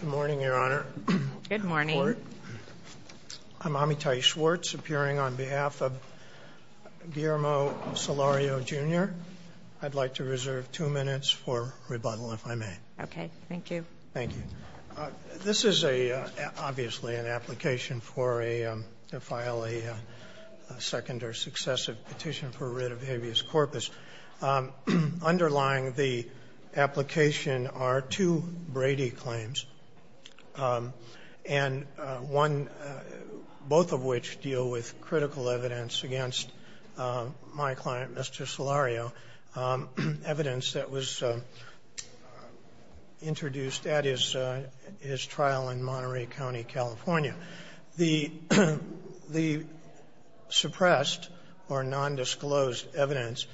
Good morning, Your Honor. Good morning. I'm Amitai Schwartz, appearing on behalf of Guillermo Solorio, Jr. I'd like to reserve two minutes for rebuttal, if I may. Okay, thank you. Thank you. This is obviously an application to file a second or successive petition for writ of habeas corpus. Underlying the names, and one, both of which deal with critical evidence against my client, Mr. Solorio, evidence that was introduced at his trial in Monterey County, California. The suppressed or nondisclosed evidence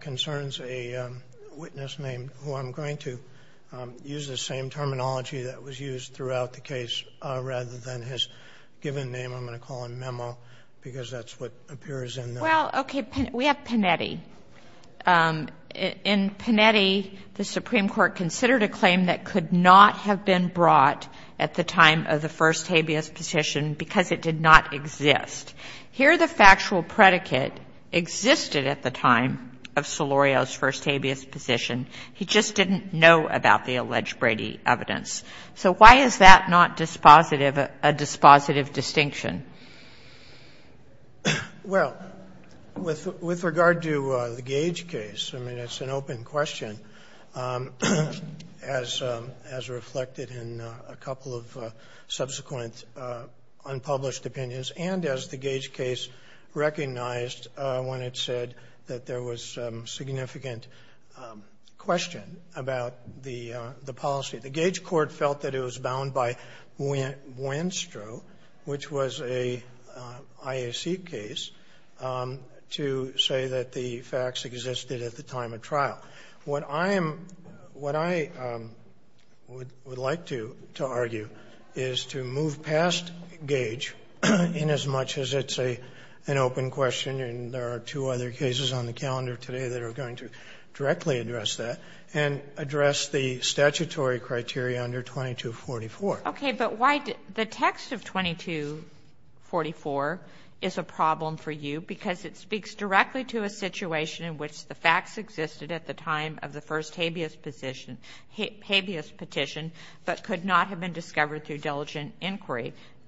concerns a witness named, who I'm going to use the same terminology that was used throughout the case, rather than his given name. I'm going to call him Memo, because that's what appears in the. Well, okay, we have Panetti. In Panetti, the Supreme Court considered a claim that could not have been brought at the time of the first habeas petition, because it did not exist. Here, the factual predicate existed at the time of Solorio's first habeas petition. He just didn't know about the alleged Brady evidence. So why is that not dispositive, a dispositive distinction? Well, with regard to the Gage case, I mean, it's an open question. As reflected in a couple of subsequent unpublished opinions, and as the Gage case recognized when it said that there was significant question about the policy, the Gage court felt that it was bound by Buenstro, which was a IAC case, to say that the facts existed at the time of the first habeas petition, but the facts did not exist at the time of Solorio's And so I would like to argue is to move past Gage, inasmuch as it's an open question and there are two other cases on the calendar today that are going to directly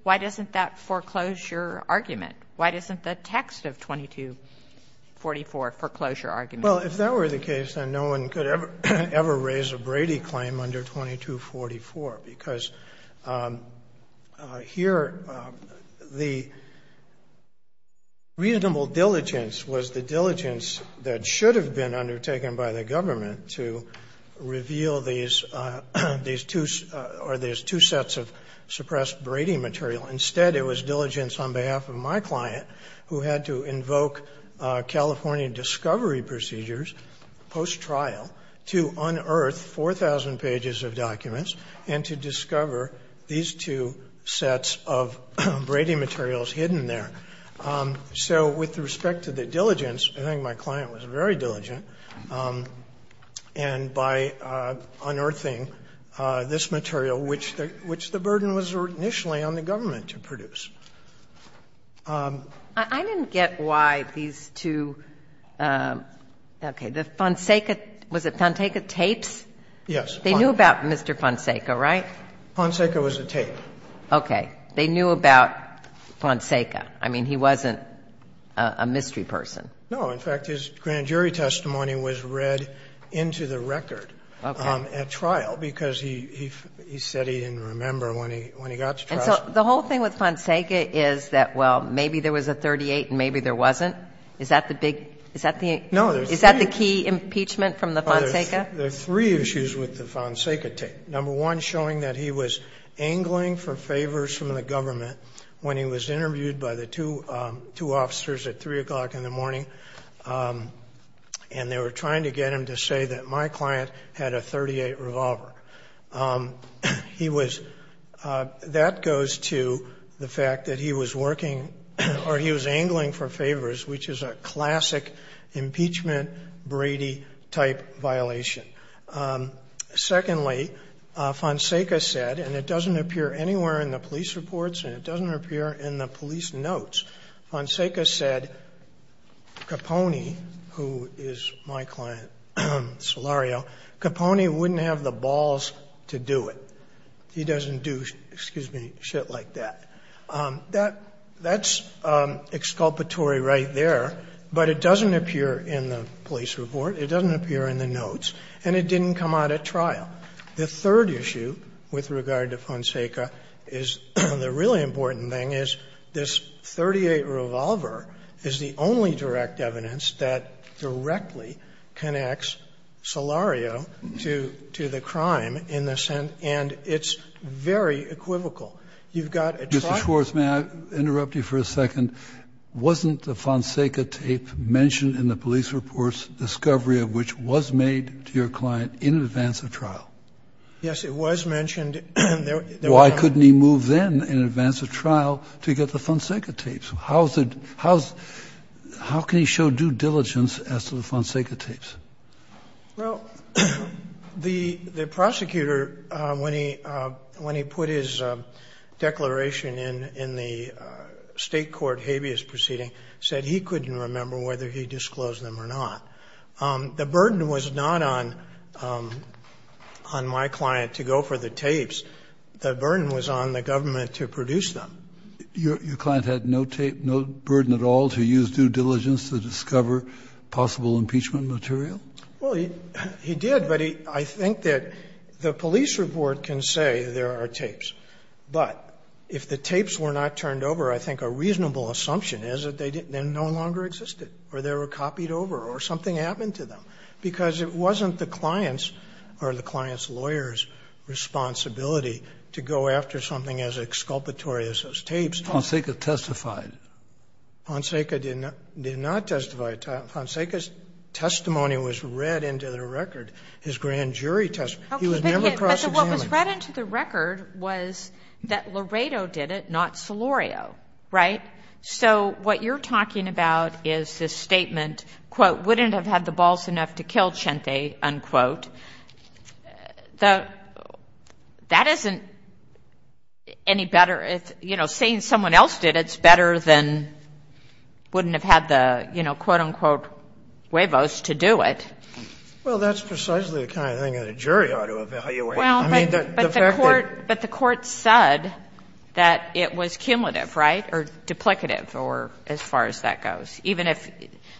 Why doesn't that foreclosure argument, why doesn't the text of 2244 foreclosure argument? Well, if that were the case, then no one could ever raise a Brady claim under 2244, because here the reasonable diligence was the diligence that should have been undertaken by the government to reveal these two sets of suppressed Brady material. Instead, it was diligence on behalf of my client who had to invoke California discovery procedures post-trial to unearth 4,000 pages of documents and to discover these two sets of Brady materials hidden there. So with respect to the diligence, I think my client was very diligent, and by unearthing this material, which the burden was initially on the government to produce. I didn't get why these two, okay, the Fonseca, was it Fonseca tapes? Yes. They knew about Mr. Fonseca, right? Fonseca was a tape. Okay. They knew about Fonseca. I mean, he wasn't a mystery person. No. In fact, his grand jury testimony was read into the record at trial, because he said he didn't remember when he got to trial. And so the whole thing with Fonseca is that, well, maybe there was a 38 and maybe there wasn't? Is that the big – is that the key impeachment from the Fonseca? There are three issues with the Fonseca tape. Number one, showing that he was angling for favors from the government when he was interviewed by the two officers at 3 o'clock in the morning, and they were trying to get him to say that my client had a 38 revolver. He was – that goes to the fact that he was working – or he was angling for favors, which is a classic impeachment Brady-type violation. Secondly, Fonseca said, and it doesn't appear anywhere in the police reports, and it doesn't appear in the police notes, Fonseca said Capone, who is my client, Solario, Capone wouldn't have the balls to do it. He doesn't do – excuse me – shit like that. That's exculpatory right there, but it doesn't appear in the police report. It doesn't appear in the notes, and it didn't come out at trial. The third issue with regard to Fonseca is the really important thing is this 38 revolver is the only direct evidence that directly connects Solario to the crime in the sense – and it's very equivocal. You've got a trial – Mr. Schwartz, may I interrupt you for a second? Wasn't the Fonseca tape mentioned in the police reports discovery of which was made to your client in advance of trial? Yes, it was mentioned. Why couldn't he move then in advance of trial to get the Fonseca tapes? How can he show due diligence as to the Fonseca tapes? Well, the prosecutor, when he put his declaration in the state court habeas proceeding, said he couldn't remember whether he disclosed them or not. The burden was not on my client to go for the tapes. The burden was on the government to produce them. Your client had no tape, no burden at all to use due diligence to discover possible impeachment material? Well, he did, but I think that the police report can say there are tapes, but if the tapes were not turned over, I think a reasonable assumption is that they no longer existed or they were copied over or something happened to them because it wasn't the client's or the client's lawyer's responsibility to go after something as exculpatory as those tapes. Fonseca testified. Fonseca did not testify. Fonseca's testimony was read into the record. His grand jury testimony. He was never cross-examined. What was read into the record was that Laredo did it, not Solorio, right? So what you're talking about is this statement, quote, wouldn't have had the balls enough to kill Chente, unquote. That isn't any better if, you know, saying someone else did it's better than wouldn't have had the, you know, quote, unquote, huevos to do it. Well, that's precisely the kind of thing that a jury ought to evaluate. Well, but the court said that it was cumulative, right? Or duplicative or as far as that goes. Even if,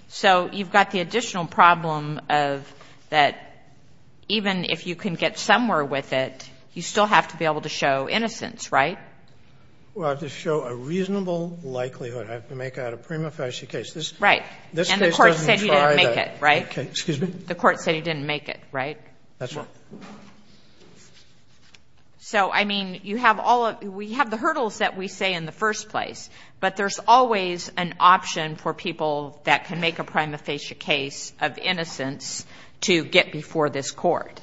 so you've got the additional problem of that even if you can get somewhere with it, you still have to be able to show innocence, right? Well, to show a reasonable likelihood. I have to make out a prima facie case. Right. And the court said you didn't make it, right? Excuse me? The court said you didn't make it, right? That's right. So, I mean, you have all of, we have the hurdles that we say in the first place, but there's always an option for people that can make a prima facie case of innocence to get before this court.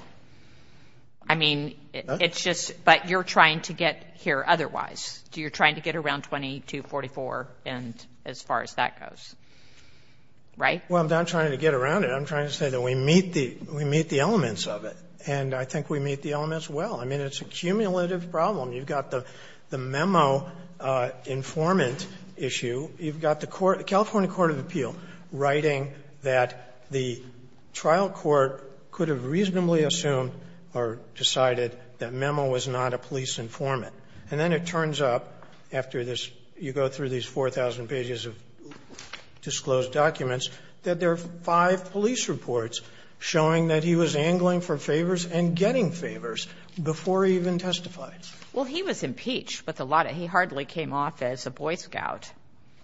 I mean, it's just, but you're trying to get here otherwise. You're trying to get around 2244 and as far as that goes, right? Well, I'm not trying to get around it. I'm trying to say that we meet the elements of it. And I think we meet the elements well. I mean, it's a cumulative problem. You've got the memo informant issue. You've got the California court of appeal writing that the trial court could have reasonably assumed or decided that Memo was not a police informant. And then it turns up after this, you go through these 4,000 pages of disclosed documents, that there are five police reports showing that he was angling for favor and getting favors before he even testified. Well, he was impeached with a lot of, he hardly came off as a Boy Scout.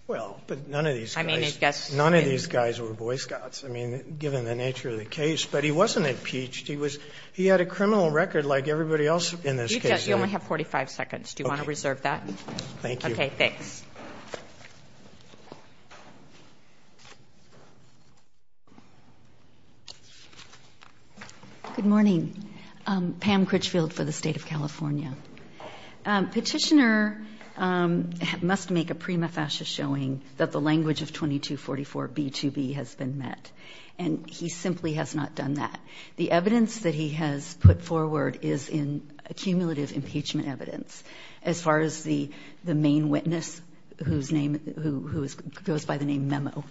Well, but none of these guys, none of these guys were Boy Scouts. I mean, given the nature of the case, but he wasn't impeached. He was, he had a criminal record like everybody else in this case. You only have 45 seconds. Thank you. Okay, thanks. Good morning, Pam Critchfield for the state of California. Petitioner must make a prima facie showing that the language of 2244b2b has been met. And he simply has not done that. The evidence that he has put forward is in accumulative impeachment evidence. As far as the main witness, whose name, who goes by the name Memo.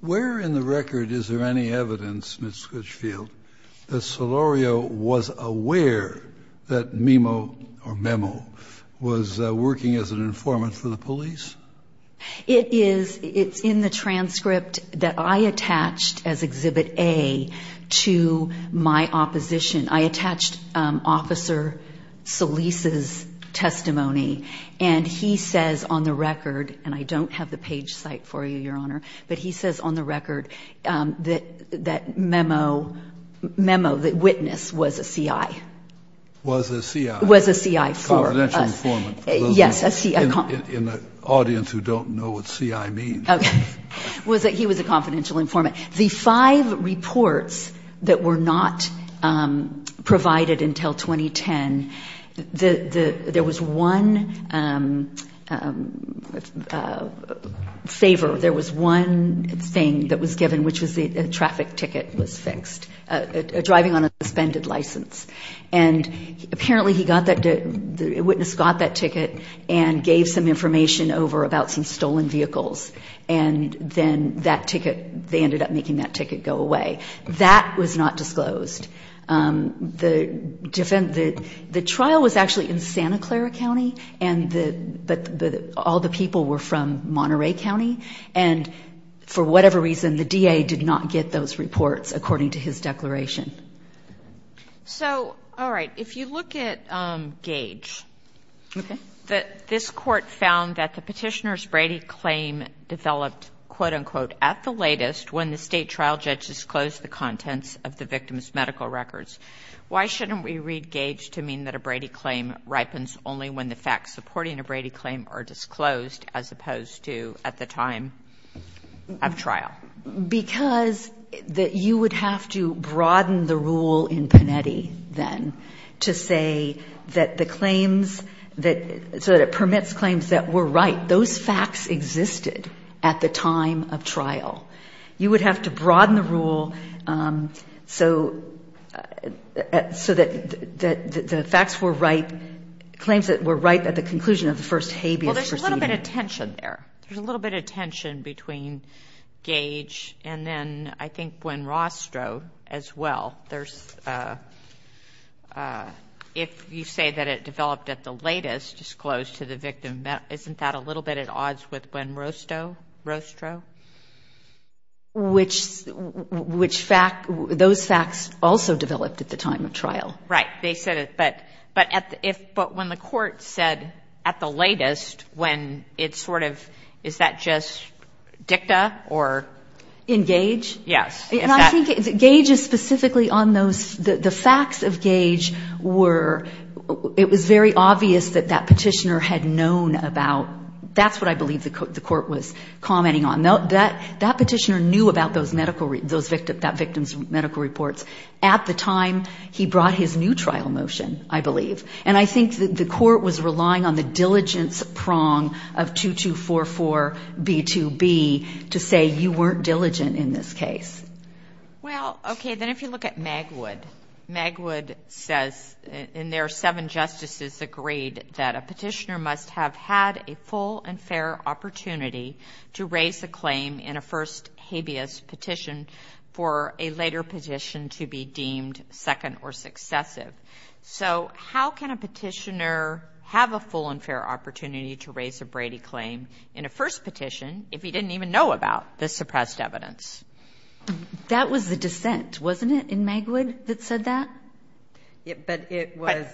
Where in the record, is there any evidence, Ms. Critchfield, that Solorio was aware that Memo was working as an informant for the police? It is, it's in the transcript that I attached as Exhibit A to my opposition. I attached Officer Solis' testimony. And he says on the record, and I don't have the page site for you, Your Honor, but he says on the record that Memo, Memo, the witness was a CI. Was a CI. Was a CI for us. Confidential informant. Yes, a CI. In the audience who don't know what CI means. Okay, he was a confidential informant. The five reports that were not provided until 2010, there was one favor, there was one thing that was given, which was the traffic ticket was fixed. Driving on a suspended license. And apparently he got that, the witness got that ticket and gave some information over about some stolen vehicles. And then that ticket, they ended up making that ticket go away. That was not disclosed. The trial was actually in Santa Clara County, but all the people were from Monterey County. And for whatever reason, the DA did not get those reports according to his declaration. So, all right, if you look at Gage. Okay. This court found that the petitioner's Brady claim developed, quote, unquote, at the latest when the state trial judge disclosed the contents of the victim's medical records. Why shouldn't we read Gage to mean that a Brady claim ripens only when the facts supporting a Brady claim are disclosed as opposed to at the time of trial? Because that you would have to broaden the rule in Panetti then to say that the claims that, so that it permits claims that were right. Those facts existed at the time of trial. You would have to broaden the rule so that the facts were right, claims that were right at the conclusion of the first habeas proceeding. Well, there's a little bit of tension there. There's a little bit of tension between Gage and then I think Gwen Rostrow as well. There's, if you say that it developed at the latest disclosed to the victim, isn't that a little bit at odds with Gwen Rostow, Rostrow? Which fact, those facts also developed at the time of trial. Right. They said it, but when the court said at the latest when it sort of, is that just dicta or? In Gage? Yes. And I think Gage is specifically on those, the facts of Gage were, it was very obvious that that petitioner had known about, that's what I believe the court was commenting on. That petitioner knew about those medical, those victims, that victim's medical reports. At the time, he brought his new trial motion, I believe. And I think that the court was relying on the diligence prong of 2244B2B to say you weren't diligent in this case. Well, okay. Then if you look at Magwood, Magwood says in their seven justices agreed that a petitioner must have had a full and fair opportunity to raise a claim in a first habeas petition for a later petition to be deemed second or successive. So how can a petitioner have a full and fair opportunity to raise a Brady claim in a first petition if he didn't even know about the suppressed evidence? That was the dissent, wasn't it, in Magwood that said that? But it was...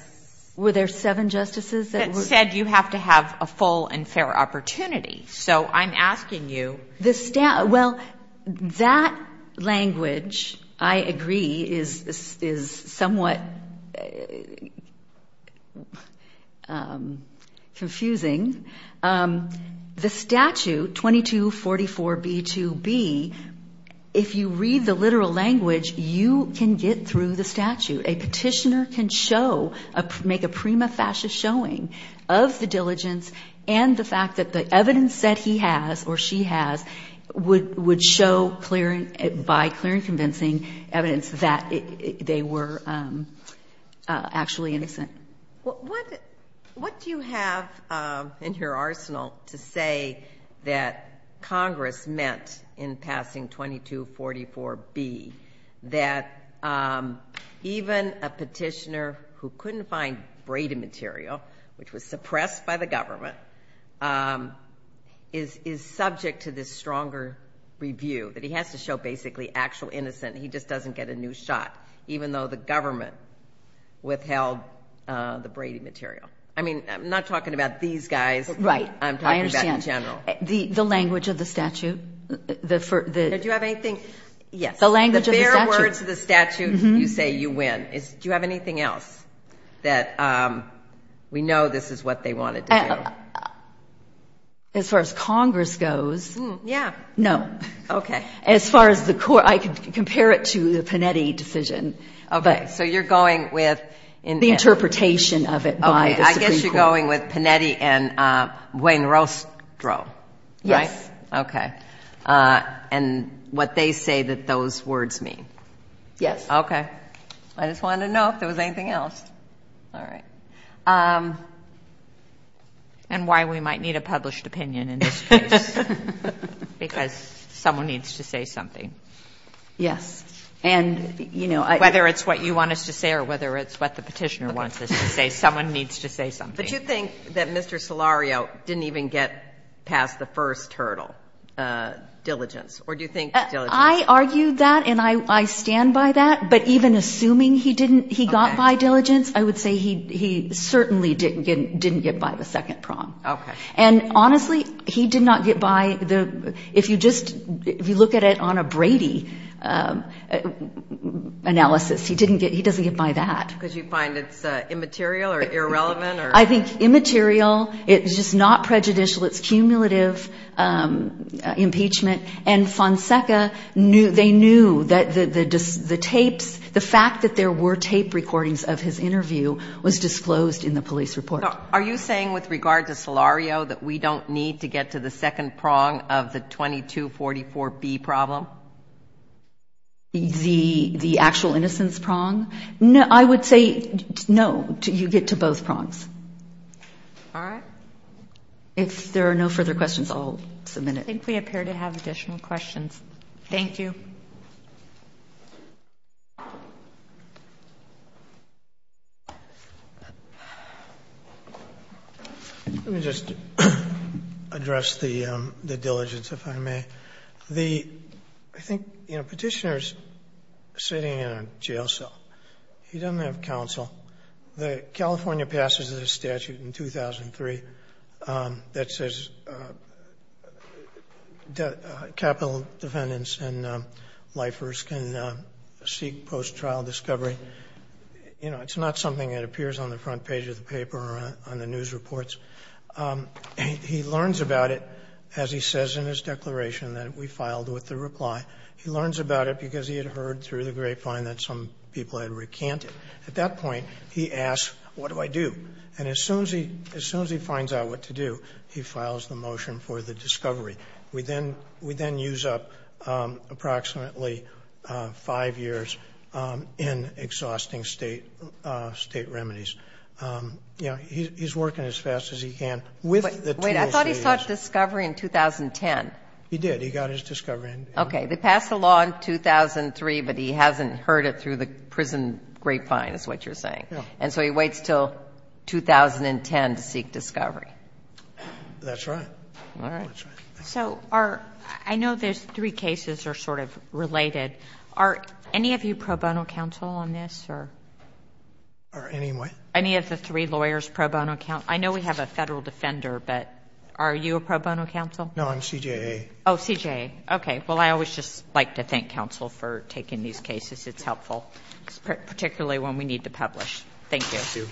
Were there seven justices that... That said you have to have a full and fair opportunity. So I'm asking you... Well, that language, I agree, is somewhat confusing. The statute, 2244B2B, if you read the literal language, you can get through the statute. A petitioner can show, make a prima facie showing of the diligence and the fact that the evidence that he has or she has would show by clear and convincing evidence that they were actually innocent. What do you have in your arsenal to say that Congress meant in passing 2244B that even a petitioner who couldn't find Brady material, which was suppressed by the government, is subject to this stronger review, that he has to show basically actual innocent, he just doesn't get a new shot, even though the government withheld the Brady material? I mean, I'm not talking about these guys. I'm talking about in general. The language of the statute. Did you have anything? Yes. The language of the statute. The bare words of the statute, you say you win. Do you have anything else that we know this is what they wanted to do? As far as Congress goes... Yeah. No. Okay. As far as the court, I can compare it to the Panetti decision. Okay. So you're going with... The interpretation of it by the Supreme Court. I guess you're going with Panetti and Wainrostro, right? Yes. Okay. And what they say that those words mean. Yes. Okay. I just wanted to know if there was anything else. All right. And why we might need a published opinion in this case. Because someone needs to say something. Yes. And, you know... Whether it's what you want us to say or whether it's what the petitioner wants us to say, someone needs to say something. But you think that Mr. Solario didn't even get past the first hurdle, diligence? Or do you think diligence... I argued that and I stand by that. But even assuming he didn't, he got by diligence, I would say he certainly didn't get by the second prong. Okay. And honestly, he did not get by the... If you look at it on a Brady analysis, he doesn't get by that. Because you find it's immaterial or irrelevant? I think immaterial. It's just not prejudicial. It's cumulative impeachment. And Fonseca, they knew that the tapes... The fact that there were tape recordings of his interview was disclosed in the police report. Are you saying with regard to Solario that we don't need to get to the second prong of the 2244B problem? The actual innocence prong? I would say no, you get to both prongs. All right. If there are no further questions, I'll submit it. I think we appear to have additional questions. Thank you. Let me just address the diligence, if I may. I think Petitioner's sitting in a jail cell. He doesn't have counsel. The California passage of the statute in 2003 that says capital defendants and lifers can seek post-trial discovery, you know, it's not something that appears on the front page of the paper or on the news reports. He learns about it, as he says in his declaration that we filed with the reply. He learns about it because he had heard through the grapevine that some people had recanted. At that point, he asks, what do I do? And as soon as he finds out what to do, he files the motion for the discovery. We then use up approximately five years in exhausting state remedies. You know, he's working as fast as he can with the tools. Wait, I thought he sought discovery in 2010. He did. He got his discovery. Okay. They passed the law in 2003, but he hasn't heard it through the prison grapevine, is what you're saying. And so he waits until 2010 to seek discovery. That's right. All right. So I know there's three cases that are sort of related. Are any of you pro bono counsel on this? Or any what? Any lawyers pro bono counsel? I know we have a federal defender, but are you a pro bono counsel? No, I'm CJA. Oh, CJA. Okay. Well, I always just like to thank counsel for taking these cases. It's helpful, particularly when we need to publish. Thank you.